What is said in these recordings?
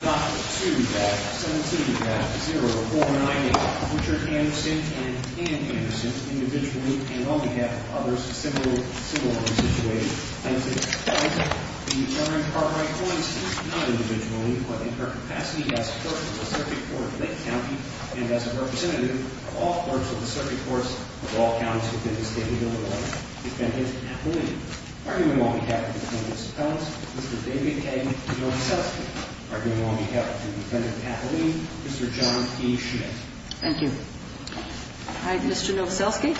Dr. 2-17-0498 Richard Anderson and Dan Anderson, individually and on behalf of others, similarly situated. Plaintiff, plaintiff, in each other's part right courts, not individually, but in their capacity as courts of the circuit court of Lake County and as a representative of all courts of the circuit courts of all counties within the state of Illinois, defendant, appellee. Arguing on behalf of the plaintiff's appellants, Mr. David K. Novoselsky. Arguing on behalf of the defendant's appellee, Mr. John E. Schmidt. Thank you. All right, Mr. Novoselsky.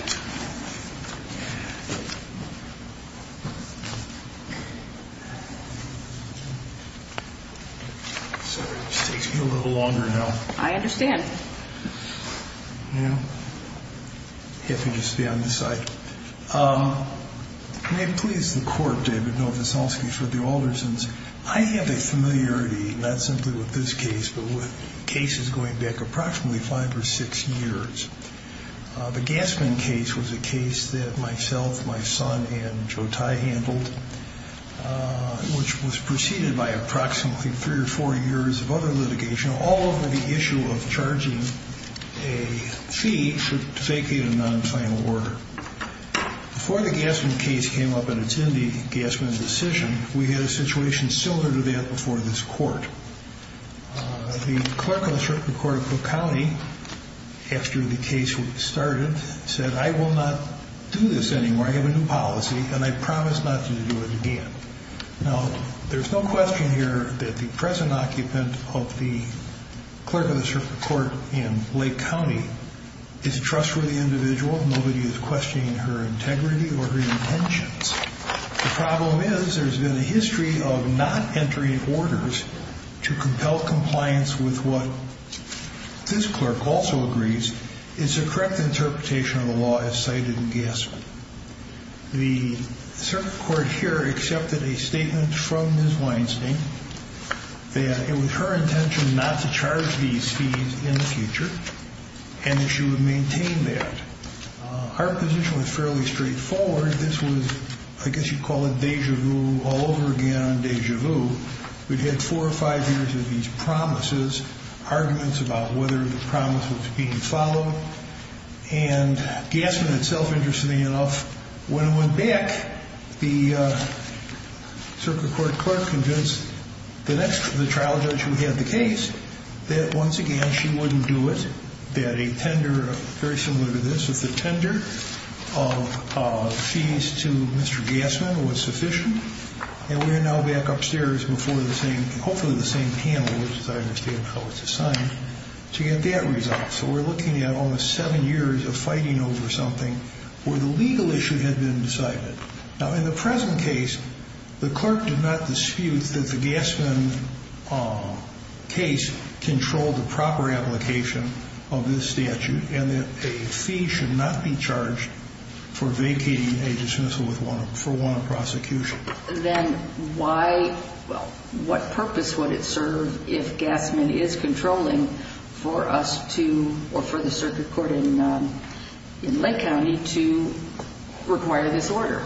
Sorry, it just takes me a little longer now. I understand. Yeah, hit me just beyond the sight. May it please the court, David Novoselsky, for the Aldersons, I have a familiarity, not simply with this case, but with cases going back approximately five or six years. The Gassman case was a case that myself, my son, and Joe Tye handled, which was preceded by approximately three or four years of other litigation all over the issue of charging a fee for faking a non-final order. Before the Gassman case came up and it's in the Gassman decision, we had a situation similar to that before this court. The clerk of the circuit court of Cook County, after the case started, said, I will not do this anymore. I have a new policy and I promise not to do it again. Now, there's no question here that the present occupant of the clerk of the circuit court in Lake County is a trustworthy individual. Nobody is questioning her integrity or her intentions. The problem is there's been a history of not entering orders to compel compliance with what this clerk also agrees is the correct interpretation of the law as cited in Gassman. The circuit court here accepted a statement from Ms. Weinstein that it was her intention not to charge these fees in the future and that she would maintain that. Her position was fairly straightforward. This was, I guess you'd call it deja vu all over again on deja vu. We'd had four or five years of these promises, arguments about whether the promise was being followed. And Gassman itself, interestingly enough, when it went back, the circuit court clerk convinced the next trial judge who had the case that once again, she wouldn't do it. That a tender, very similar to this, was the tender of fees to Mr. Gassman was sufficient. And we're now back upstairs before the same, hopefully the same panel, which as I understand is how it's assigned, to get that result. So we're looking at almost seven years of fighting over something where the legal issue had been decided. Now in the present case, the clerk did not dispute that the Gassman case controlled the proper application of this statute. And that a fee should not be charged for vacating a dismissal for one prosecution. Then why, what purpose would it serve if Gassman is controlling for us to, or for the circuit court in Lake County to require this order?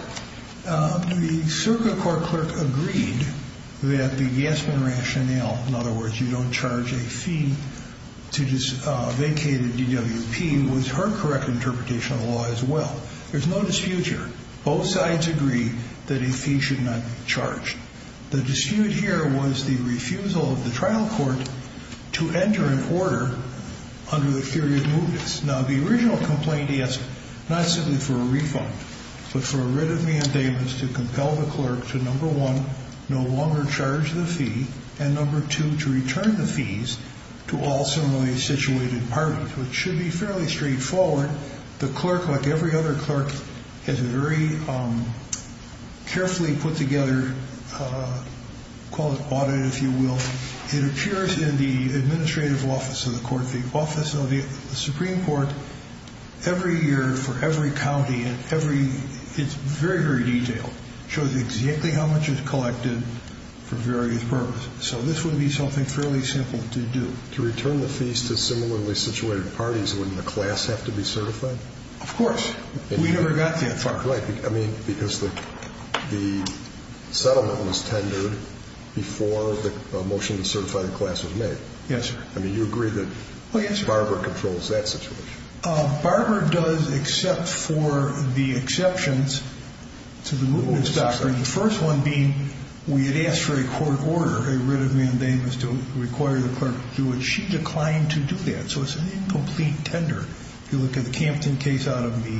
The circuit court clerk agreed that the Gassman rationale, in other words, you don't charge a fee to vacate a DWP, was her correct interpretation of the law as well. There's no dispute here. Both sides agree that a fee should not be charged. The dispute here was the refusal of the trial court to enter an order under the theory of mootness. Now the original complaint he asked, not simply for a refund, but for a writ of mandamus to compel the clerk to number one, no longer charge the fee, and number two, to return the fees to all similarly situated parties. Which should be fairly straightforward. The clerk, like every other clerk, has very carefully put together, call it audit if you will, it appears in the administrative office of the court. The office of the Supreme Court, every year for every county and every, it's very, very detailed, shows exactly how much is collected for various purposes. So this would be something fairly simple to do. To return the fees to similarly situated parties, wouldn't the class have to be certified? Of course, we never got that far. Right, I mean, because the settlement was tendered before the motion to certify the class was made. Yes, sir. I mean, you agree that Barber controls that situation? Barber does, except for the exceptions to the mootness doctrine. The first one being, we had asked for a court order, a writ of mandamus to require the clerk to do it. She declined to do that, so it's an incomplete tender. If you look at the Campton case out of the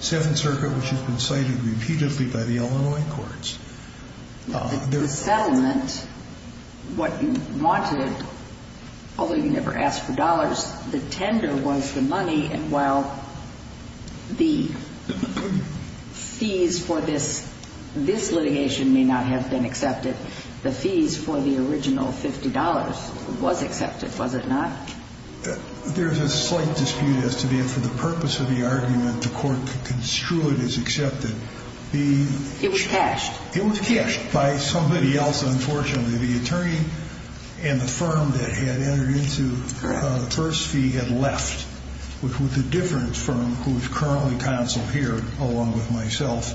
Seventh Circuit, which has been cited repeatedly by the Illinois courts. The settlement, what you wanted, although you never asked for dollars, the tender was the money, and while the fees for this litigation may not have been accepted, the fees for the original $50 was accepted, was it not? There's a slight dispute as to the purpose of the argument the court construed as accepted. It was cashed. It was cashed by somebody else, unfortunately. The attorney and the firm that had entered into the first fee had left, which was the difference from who's currently counsel here, along with myself.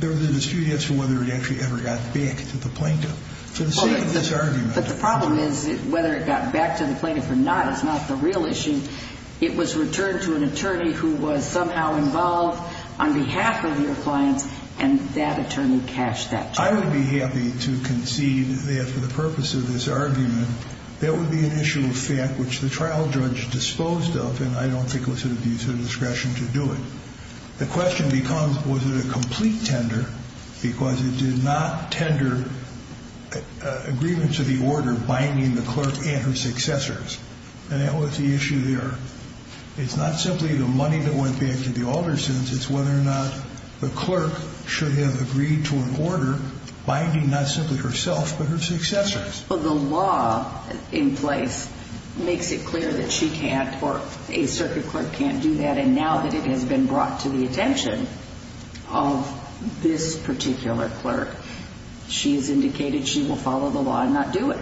There was a dispute as to whether it actually ever got back to the plaintiff. To the extent of this argument. But the problem is, whether it got back to the plaintiff or not is not the real issue. It was returned to an attorney who was somehow involved on behalf of your clients, and that attorney cashed that check. I would be happy to concede that for the purpose of this argument, that would be an issue of fact, which the trial judge disposed of, and I don't think it was to the use of discretion to do it. The question becomes, was it a complete tender? Because it did not tender agreement to the order binding the clerk and her successors. And that was the issue there. It's not simply the money that went back to the Aldersons. It's whether or not the clerk should have agreed to an order binding not simply herself, but her successors. But the law in place makes it clear that she can't, or a circuit clerk can't do that. And now that it has been brought to the attention of this particular clerk, she's indicated she will follow the law and not do it.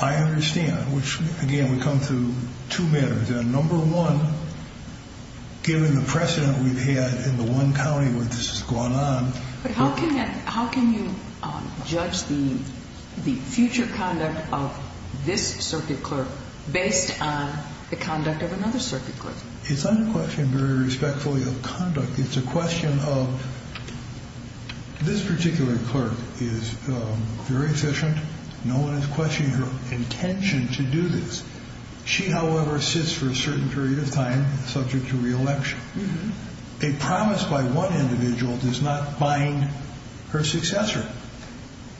I understand, which again, we come to two matters. Number one, given the precedent we've had in the one county where this has gone on. But how can you judge the future conduct of this circuit clerk based on the conduct of another circuit clerk? It's not a question very respectfully of conduct. It's a question of this particular clerk is very efficient. No one is questioning her intention to do this. She, however, sits for a certain period of time subject to re-election. A promise by one individual does not bind her successor.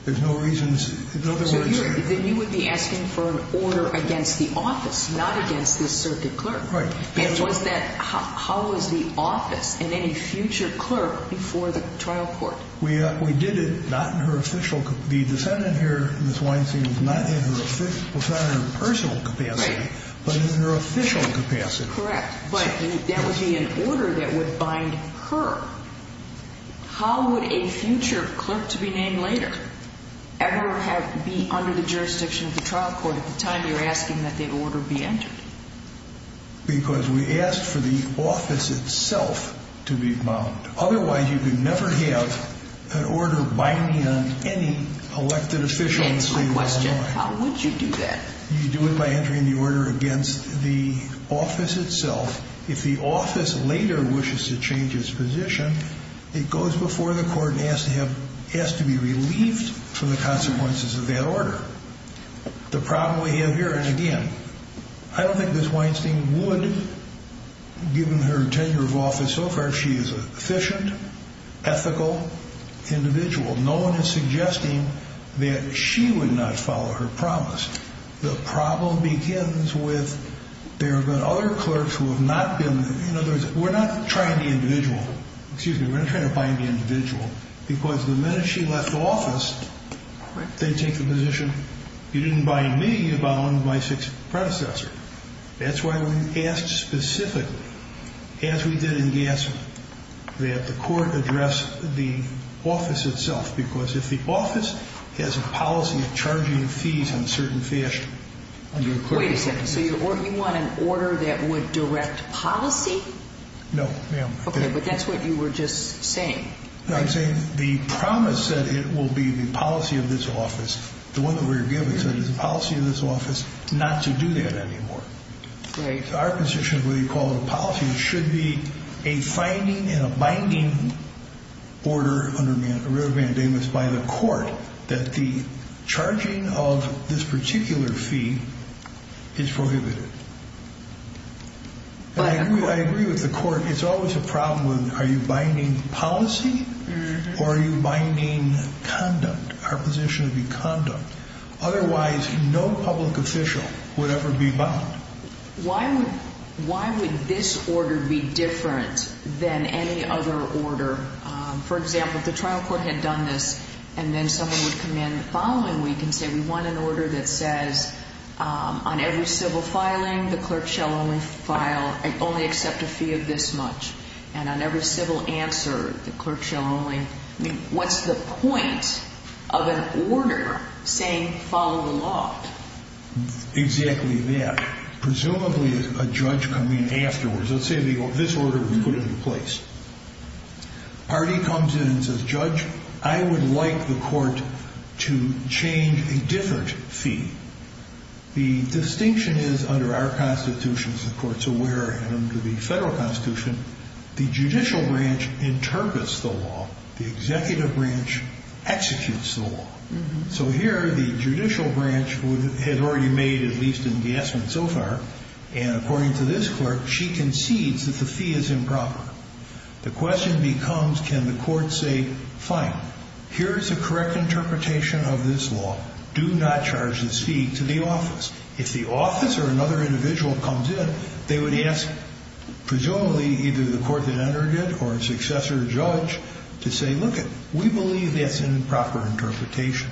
There's no reasons, in other words- Then you would be asking for an order against the office, not against this circuit clerk. Right. And was that, how was the office and any future clerk before the trial court? We did it, not in her official, the defendant here, Ms. Weinstein, was not in her personal capacity, but in her official capacity. Correct, but that would be an order that would bind her. How would a future clerk to be named later ever be under the jurisdiction of the trial court at the time you're asking that the order be entered? Because we asked for the office itself to be bound. Otherwise, you could never have an order binding on any elected official in the state of Illinois. That's my question, how would you do that? You do it by entering the order against the office itself. If the office later wishes to change its position, it goes before the court and has to be relieved from the consequences of that order. The problem we have here, and again, I don't think Ms. Weinstein would, given her tenure of office so far, she is an efficient, ethical individual. No one is suggesting that she would not follow her promise. The problem begins with, there have been other clerks who have not been, in other words, we're not trying to individual. Excuse me, we're not trying to bind the individual. Because the minute she left office, they take the position, you didn't bind me, you bound my sixth predecessor. That's why we asked specifically, as we did in Gassman, that the court address the office itself. Because if the office has a policy of charging fees in a certain fashion. Wait a second, so you want an order that would direct policy? No, ma'am. Okay, but that's what you were just saying. No, I'm saying the promise that it will be the policy of this office, the one that we're given is the policy of this office, not to do that anymore. Great. Our position, whether you call it a policy, it should be a finding in a binding order under Riverbend Amos by the court. That the charging of this particular fee is prohibited. But I agree with the court. It's always a problem with, are you binding policy or are you binding conduct? Our position would be conduct. Otherwise, no public official would ever be bound. Why would this order be different than any other order? For example, if the trial court had done this and then someone would come in the following week and say we want an order that says on every civil filing, the clerk shall only accept a fee of this much. And on every civil answer, the clerk shall only, I mean, what's the point of an order saying follow the law? Exactly that. Presumably, a judge coming in afterwards, let's say this order was put into place. Party comes in and says, judge, I would like the court to change a different fee. The distinction is under our constitution, as the court's aware, and under the federal constitution, the judicial branch interprets the law, the executive branch executes the law. So here, the judicial branch has already made at least an adjustment so far. And according to this clerk, she concedes that the fee is improper. The question becomes, can the court say, fine, here's a correct interpretation of this law. Do not charge this fee to the office. If the office or another individual comes in, they would ask, presumably, either the court that entered it or a successor judge to say, look it, we believe that's an improper interpretation.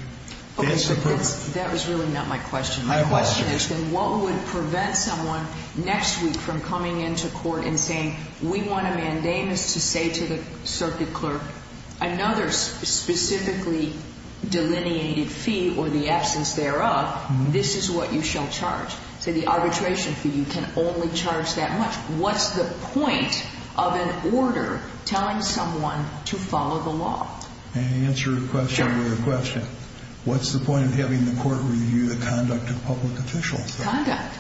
That's the problem. That was really not my question. My question is then what would prevent someone next week from coming into court and saying we want a mandamus to say to the circuit clerk, another specifically delineated fee or the absence thereof, this is what you shall charge. So the arbitration fee, you can only charge that much. What's the point of an order telling someone to follow the law? And answer a question with a question. What's the point of having the court review the conduct of public officials? Conduct.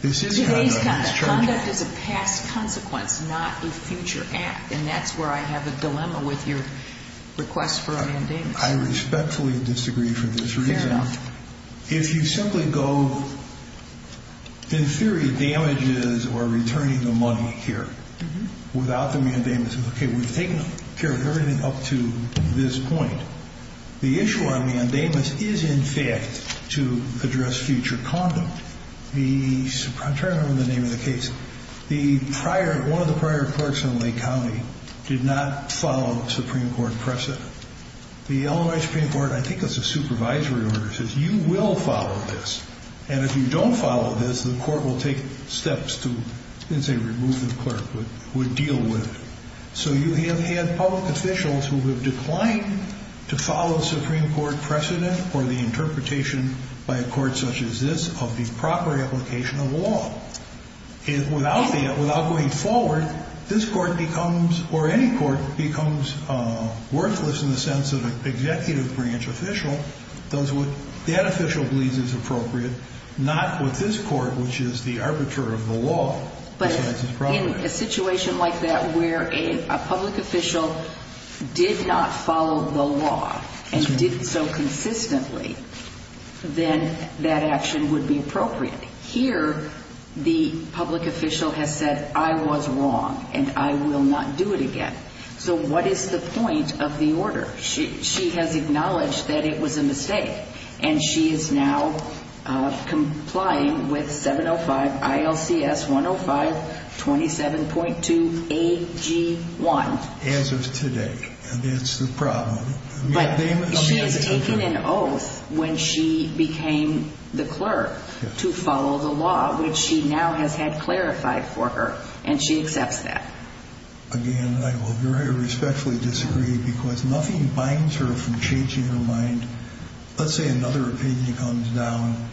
This is conduct, it's charging. Conduct is a past consequence, not a future act. And that's where I have a dilemma with your request for a mandamus. I respectfully disagree for this reason. Fair enough. If you simply go, in theory, damages or returning the money here. Without the mandamus, okay, we've taken care of everything up to this point. The issue on mandamus is, in fact, to address future conduct. The, I'm trying to remember the name of the case. The prior, one of the prior clerks in Lake County did not follow Supreme Court precedent. The Illinois Supreme Court, I think it's a supervisory order, says you will follow this. And if you don't follow this, the court will take steps to, I didn't say remove the clerk, but would deal with it. So you have had public officials who have declined to follow Supreme Court precedent or the interpretation by a court such as this of the proper application of law. If without that, without going forward, this court becomes, or any court becomes worthless in the sense of an executive branch official, does what that official believes is appropriate, not with this court, which is the arbiter of the law. But in a situation like that where a public official did not follow the law, and did so consistently, then that action would be appropriate. Here, the public official has said, I was wrong, and I will not do it again. So what is the point of the order? She has acknowledged that it was a mistake. And she is now complying with 705 ILCS 105 27.2 AG1. As of today, and that's the problem. But she has taken an oath when she became the clerk to follow the law, which she now has had clarified for her, and she accepts that. Again, I will very respectfully disagree because nothing binds her from changing her mind, let's say another opinion comes down,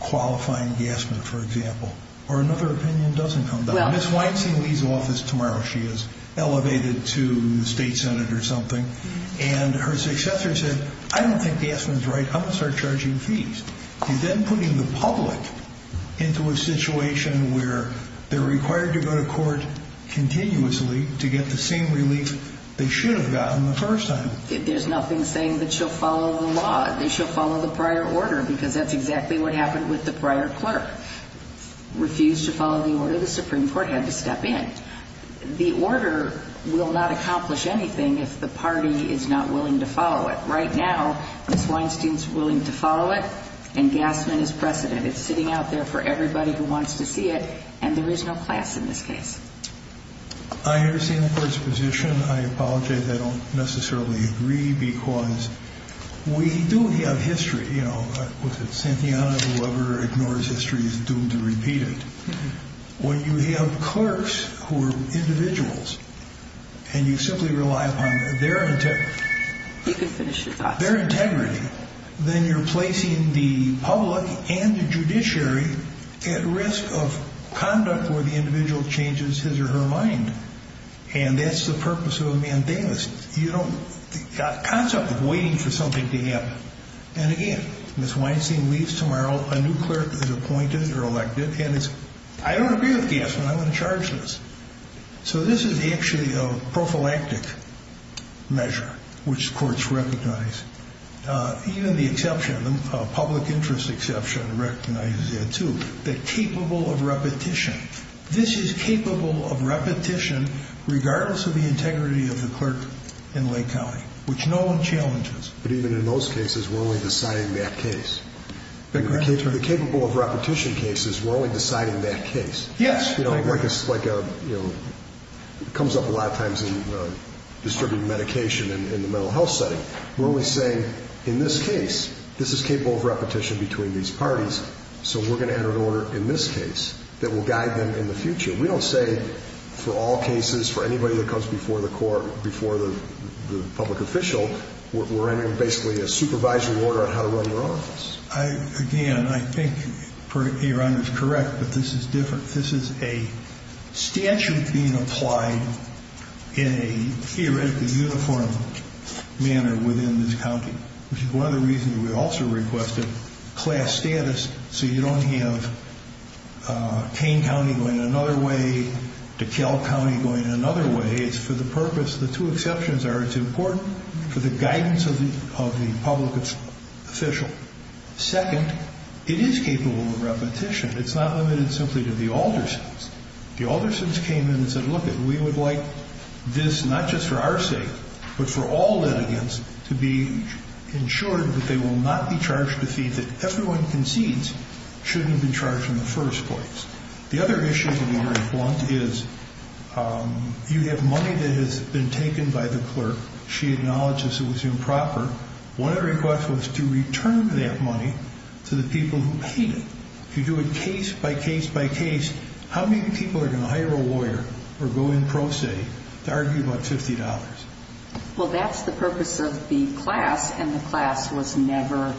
qualifying Gassman, for example. Or another opinion doesn't come down. Ms. Weinstein leaves office tomorrow. She is elevated to the state senate or something. And her successor said, I don't think Gassman's right. I'm going to start charging fees. You're then putting the public into a situation where they're required to go to court continuously to get the same relief they should have gotten the first time. There's nothing saying that she'll follow the law, that she'll follow the prior order, because that's exactly what happened with the prior clerk. Refused to follow the order, the Supreme Court had to step in. The order will not accomplish anything if the party is not willing to follow it. Right now, Ms. Weinstein's willing to follow it, and Gassman is precedent. It's sitting out there for everybody who wants to see it, and there is no class in this case. I understand the court's position. I apologize, I don't necessarily agree because we do have history. Was it Santana, whoever ignores history is doomed to repeat it. When you have clerks who are individuals, and you simply rely upon their integrity. You can finish your thoughts. Their integrity. Then you're placing the public and the judiciary at risk of conduct where the individual changes his or her mind. And that's the purpose of a mandamus. You don't, the concept of waiting for something to happen. And again, Ms. Weinstein leaves tomorrow, a new clerk is appointed or elected. And it's, I don't agree with Gassman, I'm in charge of this. So this is actually a prophylactic measure, which courts recognize. Even the exception, public interest exception recognizes it too. The capable of repetition. This is capable of repetition, regardless of the integrity of the clerk in Lake County, which no one challenges. But even in those cases, we're only deciding that case. In the capable of repetition cases, we're only deciding that case. Yes. It comes up a lot of times in distributing medication in the mental health setting. We're only saying, in this case, this is capable of repetition between these parties. So we're going to enter an order in this case that will guide them in the future. We don't say for all cases, for anybody that comes before the court, we're entering basically a supervisory order on how to run your office. Again, I think your honor is correct, but this is different. This is a statute being applied in a theoretically uniform manner within this county. Which is one of the reasons we also requested class status, so you don't have Kane County going another way, DeKalb County going another way. It's for the purpose, the two exceptions are, it's important for the guidance of the public official. Second, it is capable of repetition. It's not limited simply to the Aldersons. The Aldersons came in and said, look it, we would like this, not just for our sake, but for all litigants to be ensured that they will not be charged a fee that everyone concedes shouldn't be charged in the first place. The other issue in the reform is, you have money that has been taken by the clerk. She acknowledged this was improper. One of the requests was to return that money to the people who paid it. If you do it case by case by case, how many people are going to hire a lawyer or go in pro se to argue about $50? Well, that's the purpose of the class, and the class was never,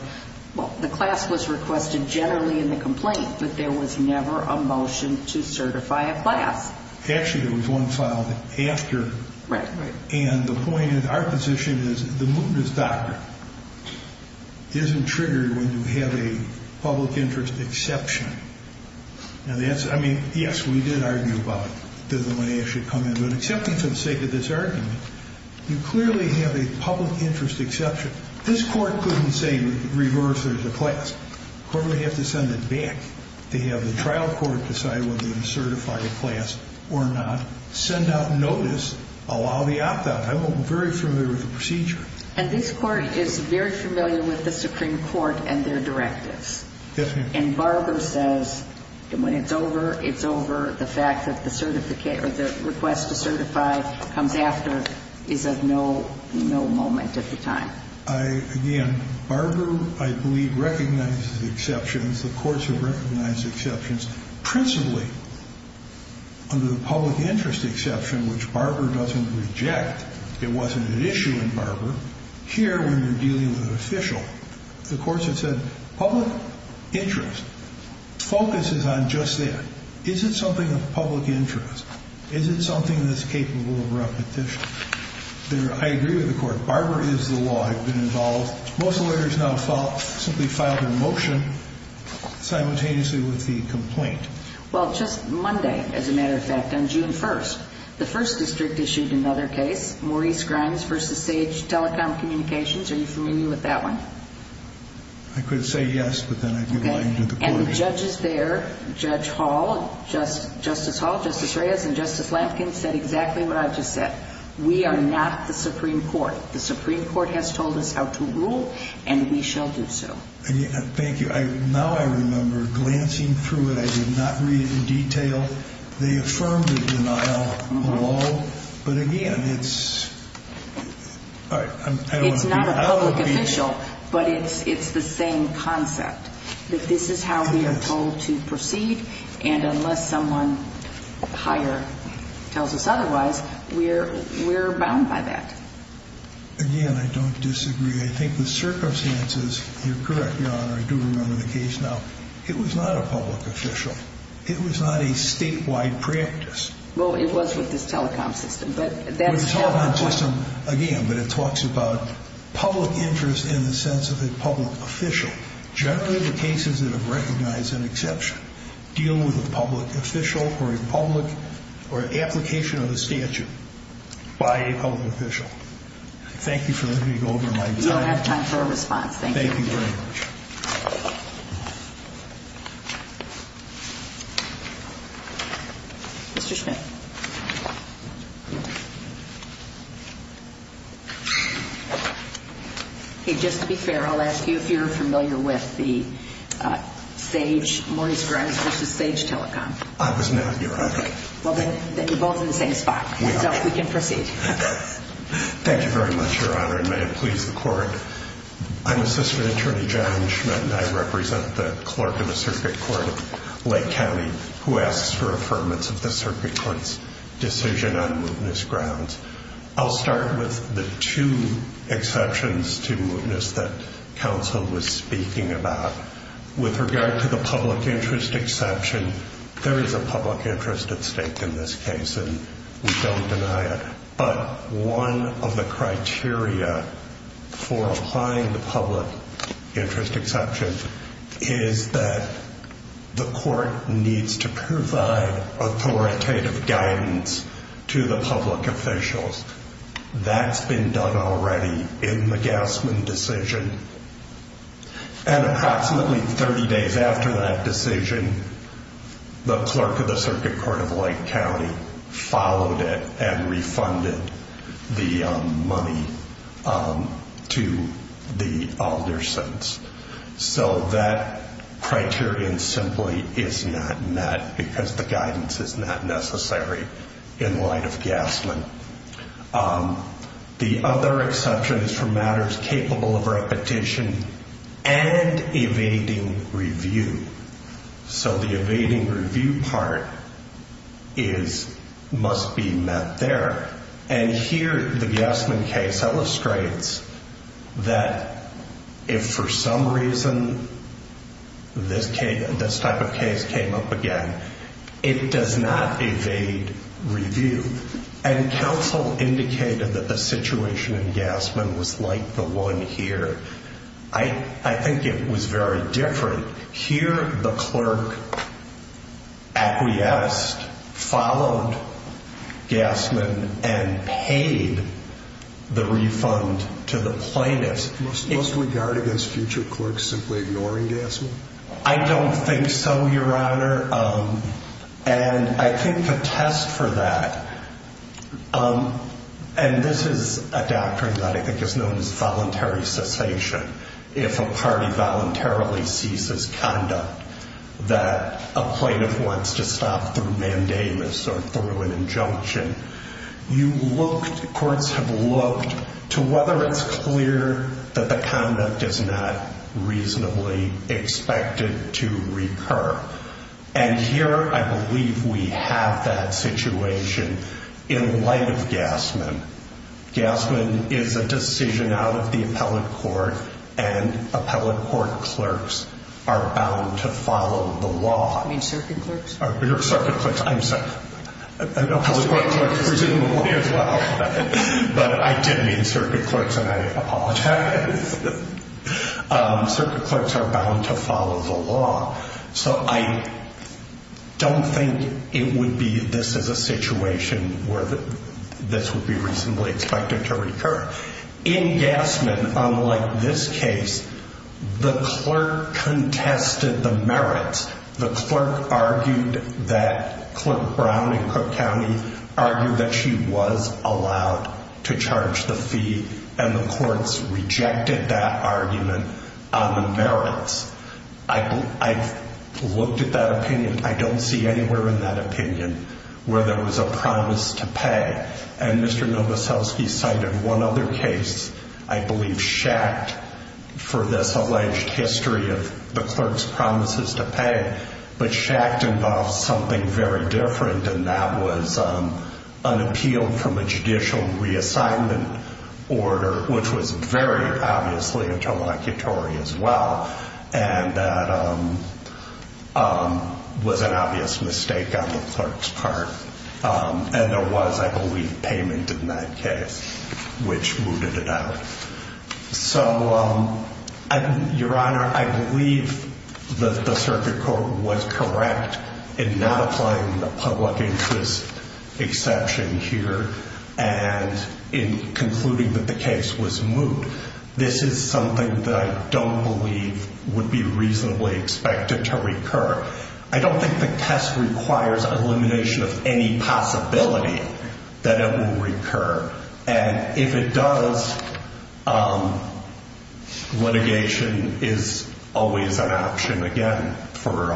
well, the class was requested generally in the complaint. But there was never a motion to certify a class. Actually, there was one filed after. Right, right. And the point of our position is, the mootness doctrine isn't triggered when you have a public interest exception. And that's, I mean, yes, we did argue about it. The money should come in, but except for the sake of this argument, you clearly have a public interest exception. This court couldn't say reverse there's a class. The court would have to send it back to have the trial court decide whether to certify the class or not, send out notice, allow the opt-out. I'm very familiar with the procedure. And this court is very familiar with the Supreme Court and their directives. Yes, ma'am. And Barber says, when it's over, it's over. The fact that the request to certify comes after is of no moment at the time. Again, Barber, I believe, recognizes exceptions. The courts have recognized exceptions. Principally, under the public interest exception, which Barber doesn't reject. It wasn't an issue in Barber. Here, when you're dealing with an official, the courts have said, public interest focuses on just that. Is it something of public interest? Is it something that's capable of repetition? I agree with the court. Barber is the law. I've been involved. Most lawyers now simply file their motion simultaneously with the complaint. Well, just Monday, as a matter of fact, on June 1st, the first district issued another case, Maurice Grimes versus Sage Telecom Communications. Are you familiar with that one? I could say yes, but then I'd be lying to the court. And judges there, Judge Hall, Justice Hall, Justice Reyes, and we are not the Supreme Court. The Supreme Court has told us how to rule, and we shall do so. Thank you. Now I remember, glancing through it, I did not read it in detail. They affirmed the denial of the law, but again, it's, all right, I don't agree. It's not a public official, but it's the same concept, that this is how we are told to proceed. And unless someone higher tells us otherwise, we're bound by that. Again, I don't disagree. I think the circumstances, you're correct, Your Honor, I do remember the case now. It was not a public official. It was not a statewide practice. Well, it was with this telecom system, but that's- With the telecom system, again, but it talks about public interest in the sense of dealing with a public official, or a public, or an application of the statute by a public official. Thank you for letting me go over my- We don't have time for a response. Thank you. Thank you very much. Mr. Schmidt. Okay, just to be fair, I'll ask you if you're familiar with the sage, Morris Grounds versus Sage Telecom. I was not, Your Honor. Well, then you're both in the same spot, so we can proceed. Thank you very much, Your Honor, and may it please the court. I'm Assistant Attorney John Schmidt, and I represent the clerk of the Circuit Court of Lake County, who asks for affirmance of the Circuit Court's decision on Moveness Grounds. I'll start with the two exceptions to Moveness that counsel was speaking about. With regard to the public interest exception, there is a public interest at stake in this case, and we don't deny it. But one of the criteria for applying the public interest exception is that the court needs to provide authoritative guidance to the public officials. That's been done already in the Gassman decision. And approximately 30 days after that decision, the clerk of the Circuit Court of Lake County followed it and refunded the money to the Aldersons. So that criterion simply is not met because the guidance is not necessary in light of Gassman. The other exception is for matters capable of repetition and evading review. So the evading review part must be met there. And here, the Gassman case illustrates that if for some reason this type of case came up again, it does not evade review. And counsel indicated that the situation in Gassman was like the one here. I think it was very different. Here, the clerk acquiesced, followed Gassman, and paid the refund to the plaintiffs. Must we guard against future clerks simply ignoring Gassman? I don't think so, Your Honor. And I think a test for that, and this is a doctrine that I think is known as voluntary cessation. If a party voluntarily ceases conduct that a plaintiff wants to stop through mandamus or through an injunction, courts have looked to whether it's clear that the conduct is not reasonably expected to recur. And here, I believe we have that situation in light of Gassman. Gassman is a decision out of the appellate court, and appellate court clerks are bound to follow the law. You mean circuit clerks? Circuit clerks, I'm sorry. Appellate court clerks presumably as well. But I did mean circuit clerks, and I apologize. Circuit clerks are bound to follow the law. So I don't think it would be, this is a situation where this would be reasonably expected to recur. In Gassman, unlike this case, the clerk contested the merits. The clerk argued that, Clerk Brown in Cook County argued that she was allowed to charge the fee, and the courts rejected that argument on the merits. I've looked at that opinion. I don't see anywhere in that opinion where there was a promise to pay. And Mr. Novoselsky cited one other case, I believe Schacht, for this alleged history of the clerk's promises to pay. But Schacht involved something very different, and that was an appeal from a judicial reassignment order, which was very obviously a total vacutory as well. And that was an obvious mistake on the clerk's part. And there was, I believe, payment in that case, which mooted it out. So, Your Honor, I believe that the circuit court was correct in not applying the public interest exception here, and in concluding that the case was moot. This is something that I don't believe would be reasonably expected to recur. I don't think the test requires elimination of any possibility that it will recur. And if it does, litigation is always an option, again, for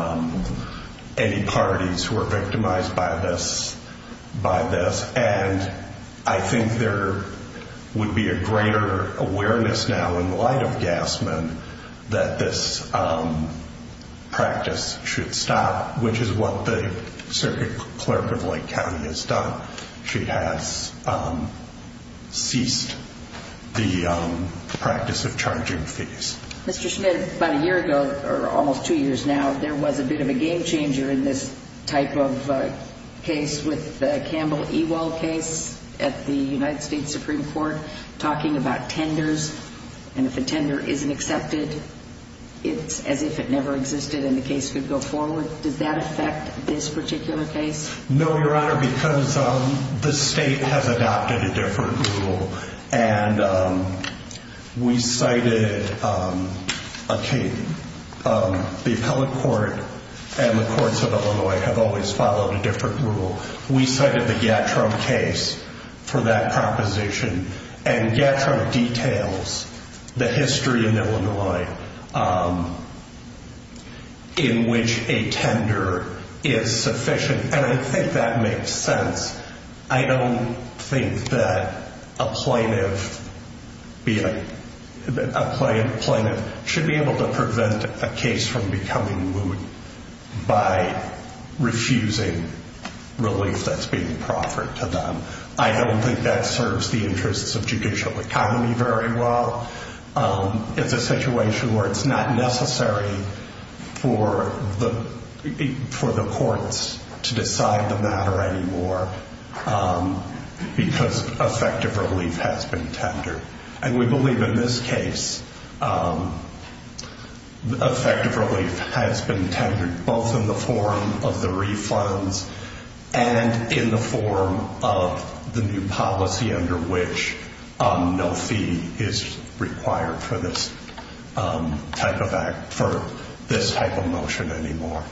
any parties who are victimized by this. And I think there would be a greater awareness now in light of Gassman that this practice should stop, which is what the circuit clerk of Lake County has done. She has ceased the practice of charging fees. Mr. Schmidt, about a year ago, or almost two years now, there was a bit of a game changer in this type of case with the Campbell-Ewell case at the United States Supreme Court, talking about tenders. And if a tender isn't accepted, it's as if it never existed and the case could go forward. Does that affect this particular case? No, Your Honor, because the state has adopted a different rule. And we cited the appellate court and the courts of Illinois have always followed a different rule. We cited the Gattrum case for that proposition. And Gattrum details the history in Illinois in which a tender is sufficient. And I think that makes sense. I don't think that a plaintiff should be able to prevent a case from becoming moot by refusing relief that's being proffered to them. I don't think that serves the interests of judicial economy very well. It's a situation where it's not necessary for the courts to decide the matter anymore because effective relief has been tendered. And we believe in this case effective relief has been tendered both in the form of the refunds and in the form of the new policy under which no fee is required for this type of motion anymore.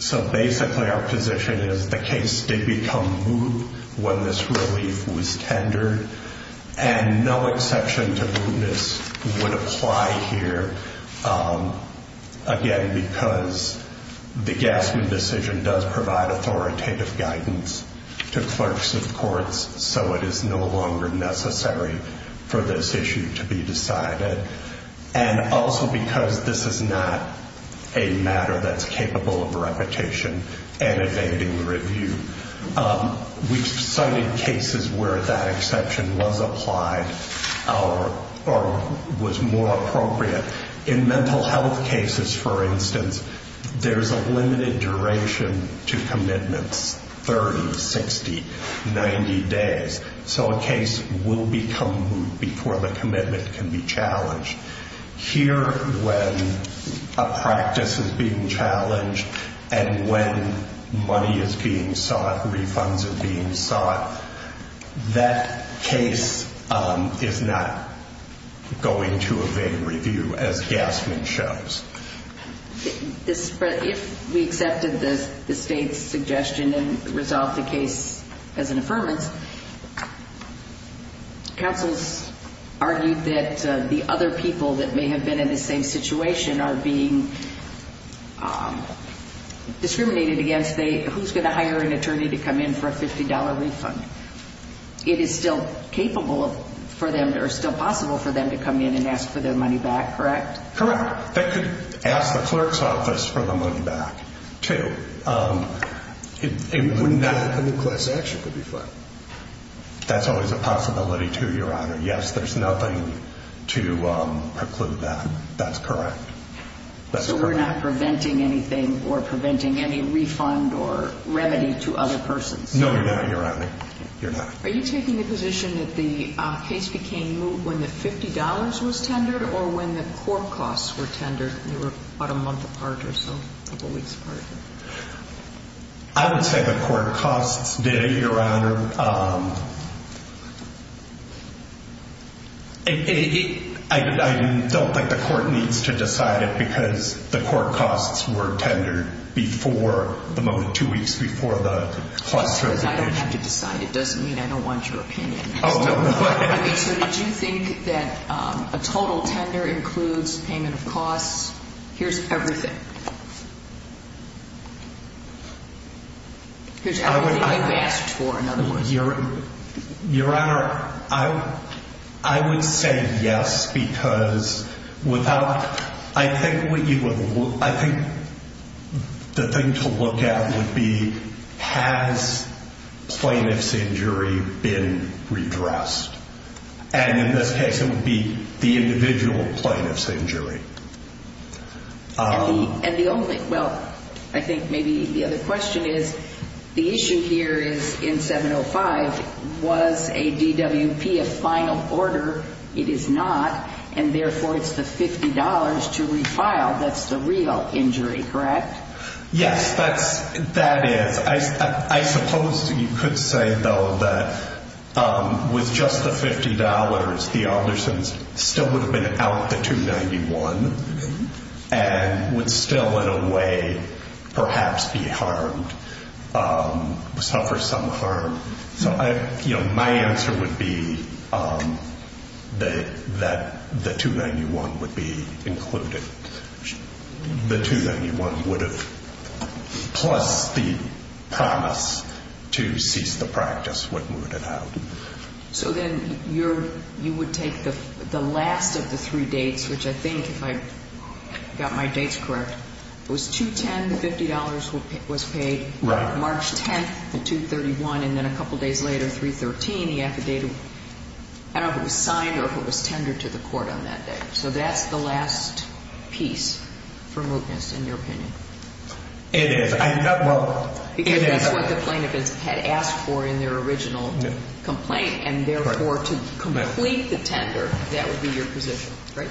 So basically our position is the case did become moot when this relief was tendered. And no exception to mootness would apply here again because the Gattrum decision does provide authoritative guidance to clerks of courts so it is no longer necessary for this issue to be decided. And also because this is not a matter that's capable of repetition and evading review. We've cited cases where that exception was applied or was more appropriate. In mental health cases, for instance, there's a limited duration to commitments, 30, 60, 90 days. So a case will become moot before the commitment can be challenged. Here when a practice is being challenged and when money is being sought, refunds are being sought, that case is not going to evade review as Gassman shows. If we accepted the state's suggestion and resolved the case as an affirmance, counsels argued that the other people that may have been in the same situation are being discriminated against. Who's going to hire an attorney to come in for a $50 refund? It is still possible for them to come in and ask for their money back, correct? Correct. They could ask the clerk's office for the money back too. It wouldn't be a class action, it would be fine. That's always a possibility too, Your Honor. Yes, there's nothing to preclude that. That's correct. So we're not preventing anything or preventing any refund or remedy to other persons? No, you're not, Your Honor. You're not. Are you taking the position that the case became moot when the $50 was tendered or when the court costs were tendered? They were about a month apart or so, a couple weeks apart. I would say the court costs did it, Your Honor. I don't think the court needs to decide it because the court costs were tendered before, at the moment, two weeks before the cost was issued. I don't have to decide. It doesn't mean I don't want your opinion. So did you think that a total tender includes payment of costs? Here's everything. Here's everything you asked for, in other words. Your Honor, I would say yes because without, I think the thing to look at would be, has plaintiff's injury been redressed? And in this case, it would be the individual plaintiff's injury. And the only, well, I think maybe the other question is, the issue here is in 705, was a DWP a final order? It is not. And therefore, it's the $50 to refile that's the real injury, correct? Yes, that is. I suppose you could say, though, that with just the $50, the Alderson's still would have been out the 291 and would still, in a way, perhaps be harmed, suffer some harm. So I, you know, my answer would be that the 291 would be included. The 291 would have, plus the promise to cease the practice would have moved it out. So then you're, you would take the last of the three dates, which I think if I got my dates correct, it was 210, the $50 was paid. Right. March 10th, the 231, and then a couple days later, 313, he affidavit, I don't know if it was signed or if it was tendered to the court on that day. So that's the last piece for mootness, in your opinion? It is. Well, it is. That's what the plaintiff had asked for in their original complaint. And therefore, to complete the tender, that would be your position, right?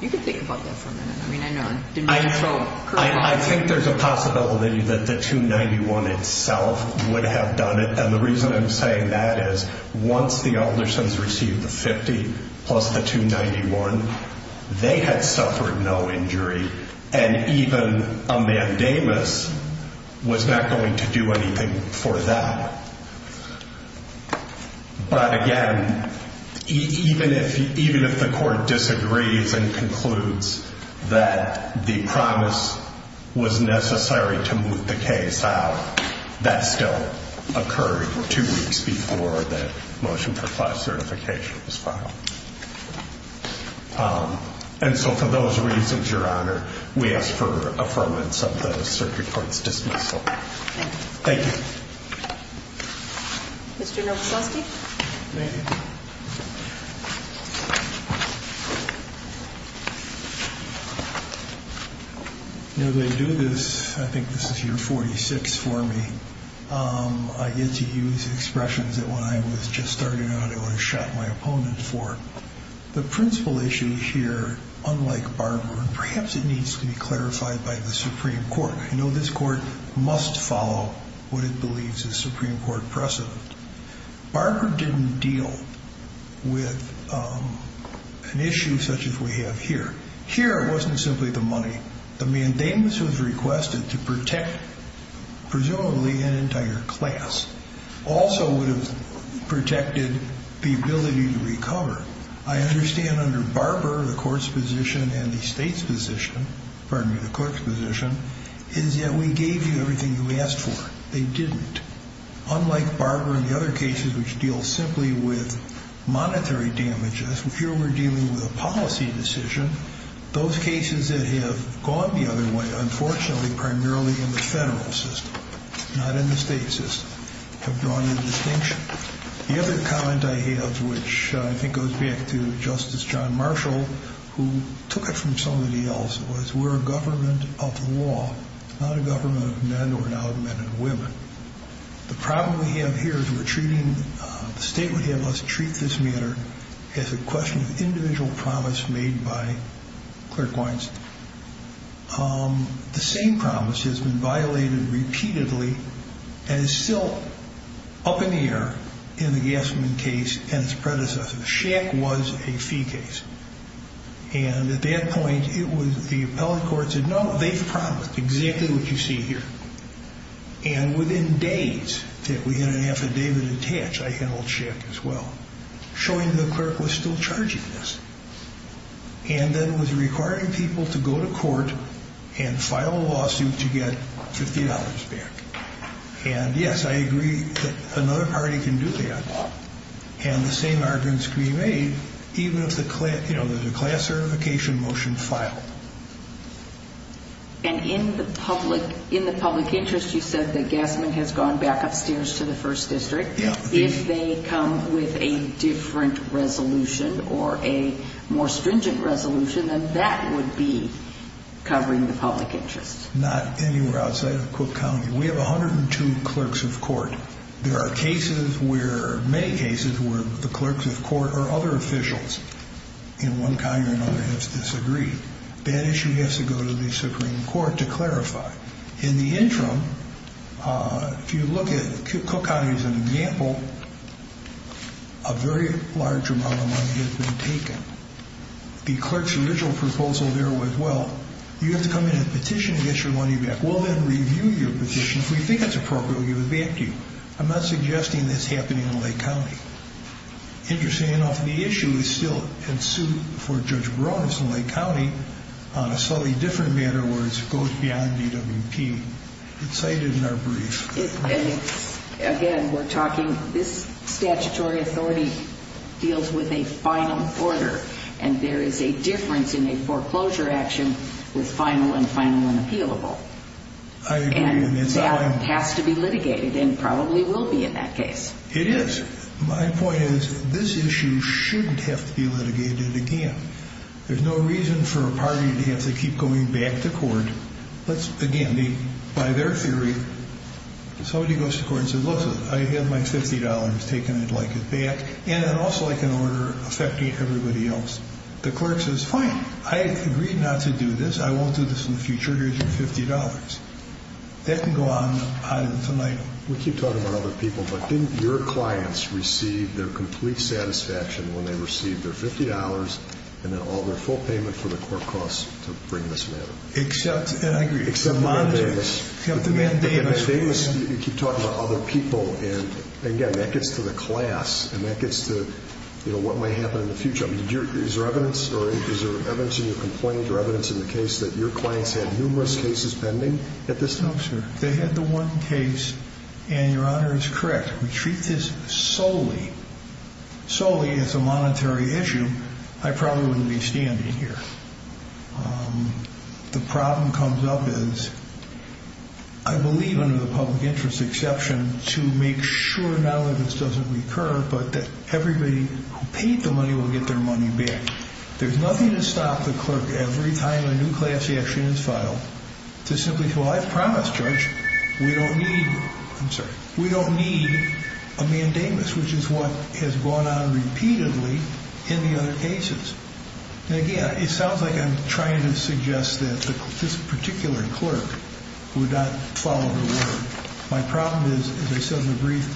You can think about that for a minute. I mean, I know. I think there's a possibility that the 291 itself would have done it. And the reason I'm saying that is once the Alderson's received the $50 plus the 291, they had suffered no injury, and even a mandamus was not going to do anything for them. But again, even if the court disagrees and concludes that the promise was necessary to move the case out, that still occurred two weeks before the motion for class certification was filed. And so for those reasons, Your Honor, we ask for affirmance of the circuit court's dismissal. Thank you. Mr. Novoselsky? You know, they do this, I think this is year 46 for me. I get to use expressions that when I was just starting out, I would have shot my opponent for. The principal issue here, unlike Barker, perhaps it needs to be clarified by the Supreme Court. I know this court must follow what it believes is Supreme Court precedent. Barker didn't deal with an issue such as we have here. Here, it wasn't simply the money. The mandamus was requested to protect, presumably, an entire class. Also would have protected the ability to recover. I understand under Barber, the court's position and the state's position, pardon me, the court's position, is that we gave you everything you asked for. They didn't. Unlike Barber and the other cases which deal simply with monetary damages, here we're dealing with a policy decision. Those cases that have gone the other way, unfortunately, primarily in the federal system, not in the state system. Have drawn a distinction. The other comment I have, which I think goes back to Justice John Marshall, who took it from somebody else, was we're a government of law. Not a government of men, or now of men and women. The problem we have here is we're treating, the state would have us treat this matter as a question of individual promise made by clerk wines. The same promise has been violated repeatedly and is still up in the air in the Gassman case and its predecessor. Shack was a fee case. And at that point, the appellate court said, no, they've promised exactly what you see here. And within days that we had an affidavit attached, I handled Shack as well. Showing the clerk was still charging us. And then was requiring people to go to court and file a lawsuit to get $50 back. And yes, I agree that another party can do that. And the same arguments can be made, even if there's a class certification motion filed. And in the public interest, you said that Gassman has gone back upstairs to the first district. If they come with a different resolution or a more stringent resolution, then that would be covering the public interest. Not anywhere outside of Cook County. We have 102 clerks of court. There are cases where, many cases, where the clerks of court or other officials in one county or another have disagreed. In the interim, if you look at Cook County as an example, a very large amount of money has been taken. The clerk's original proposal there was, well, you have to come in and petition to get your money back. We'll then review your petition. If we think it's appropriate, we'll give it back to you. I'm not suggesting that's happening in Lake County. Interestingly enough, the issue is still in suit for Judge Barones in Lake County on a slightly different matter where it goes beyond DWP. It's cited in our brief. Again, we're talking, this statutory authority deals with a final order. And there is a difference in a foreclosure action with final and final and appealable. I agree. And that has to be litigated and probably will be in that case. It is. My point is, this issue shouldn't have to be litigated again. There's no reason for a party to have to keep going back to court. Let's, again, by their theory, somebody goes to court and says, look, I have my $50 taken. I'd like it back. And then also I can order affecting everybody else. The clerk says, fine. I agree not to do this. I won't do this in the future. Here's your $50. That can go on and on and tonight. We keep talking about other people, but didn't your clients receive their complete satisfaction when they received their $50 and then all their full payment for the court costs to bring this matter? Except, and I agree, except the mandamus. The mandamus, you keep talking about other people. And again, that gets to the class and that gets to, you know, what might happen in the future. Is there evidence or is there evidence in your complaint or evidence in the case that your clients had numerous cases pending at this time? They had the one case and your Honor is correct. We treat this solely, solely as a monetary issue. I probably wouldn't be standing here. The problem comes up is I believe under the public interest exception to make sure not only this doesn't recur, but that everybody who paid the money will get their money back. There's nothing to stop the clerk every time a new class action is filed to simply say, well, I've promised, Judge, we don't need, I'm sorry, we don't need a mandamus, which is what has gone on repeatedly in the other cases. And again, it sounds like I'm trying to suggest that this particular clerk would not follow the word. My problem is, as I said in the brief,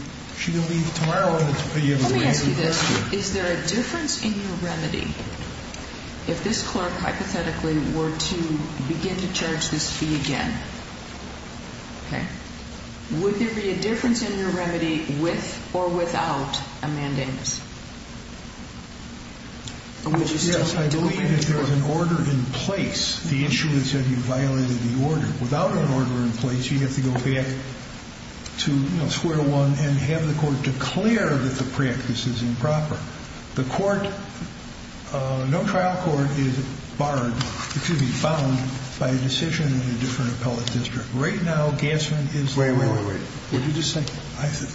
she can leave tomorrow and it's the end of the day. Let me ask you this, is there a difference in your remedy if this clerk hypothetically were to begin to charge this fee again? Okay. Would there be a difference in your remedy with or without a mandamus? Yes, I believe that there is an order in place. The issue is that you violated the order. Without an order in place, you have to go back to square one and have the court declare that the practice is improper. The court, no trial court, is barred, excuse me, bound by a decision in a different appellate district. Right now, Gassman is... Wait, wait, wait. What did you just say?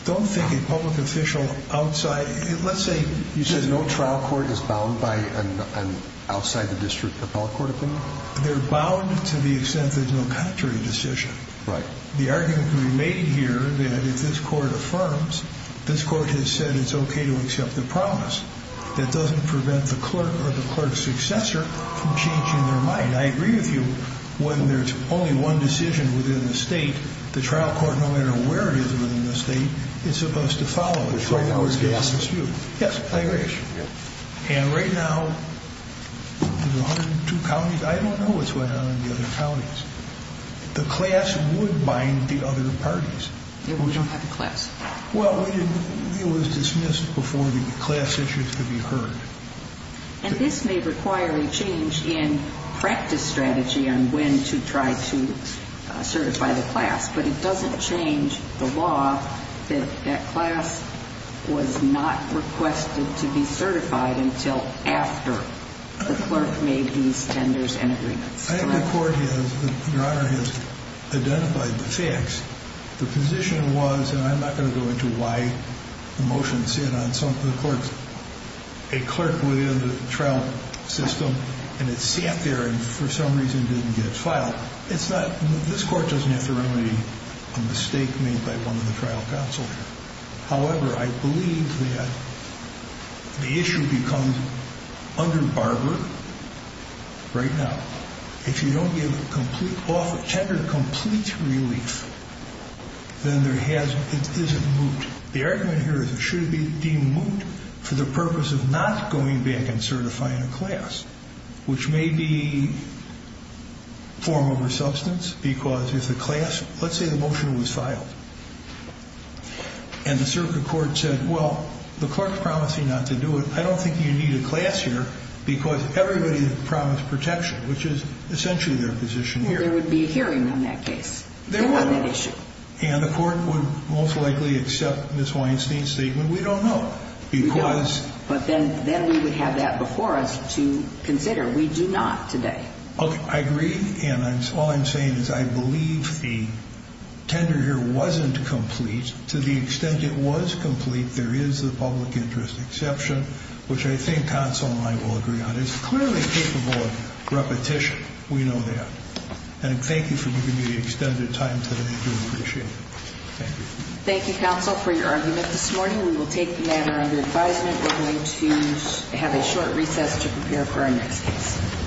Don't think a public official outside, let's say... You said no trial court is bound by an outside the district appellate court opinion? They're bound to the extent there's no contrary decision. Right. The argument can be made here that if this court affirms, this court has said it's okay to accept the promise. That doesn't prevent the clerk or the clerk's successor from changing their mind. I agree with you. When there's only one decision within the state, the trial court, no matter where it is within the state, is supposed to follow it. Which right now is Gassman. Yes, I agree. And right now, there's 102 counties, I don't know what's going on in the other counties. The class would bind the other parties. It would not have a class. Well, it was dismissed before the class issues could be heard. And this may require a change in practice strategy on when to try to certify the class. But it doesn't change the law that that class was not requested to be certified until after the clerk made these tenders and agreements. I think the court has, Your Honor, has identified the facts. The position was, and I'm not going to go into why the motion said on some of the clerks, a clerk within the trial system and it's stamped there and for some reason didn't get filed. It's not, this court doesn't have to remedy a mistake made by one of the trial counsel. However, I believe that the issue becomes under Barbara right now. If you don't give a tender complete relief, then there has, it isn't moot. The argument here is it should be deemed moot for the purpose of not going back and certifying a class. Which may be form over substance because if the class, let's say the motion was filed. And the circuit court said, well, the clerk's promising not to do it. I don't think you need a class here because everybody promised protection, which is essentially their position here. There would be a hearing on that case. There would. And the court would most likely accept Ms. Weinstein's statement. We don't know. But then we would have that before us to consider. We do not today. I agree. And all I'm saying is I believe the tender here wasn't complete. To the extent it was complete, there is a public interest exception. Which I think counsel and I will agree on. It's clearly capable of repetition. We know that. And thank you for giving me the extended time today. I do appreciate it. Thank you. Thank you, counsel, for your argument this morning. We will take the matter under advisement. We're going to have a short recess to prepare for our next case.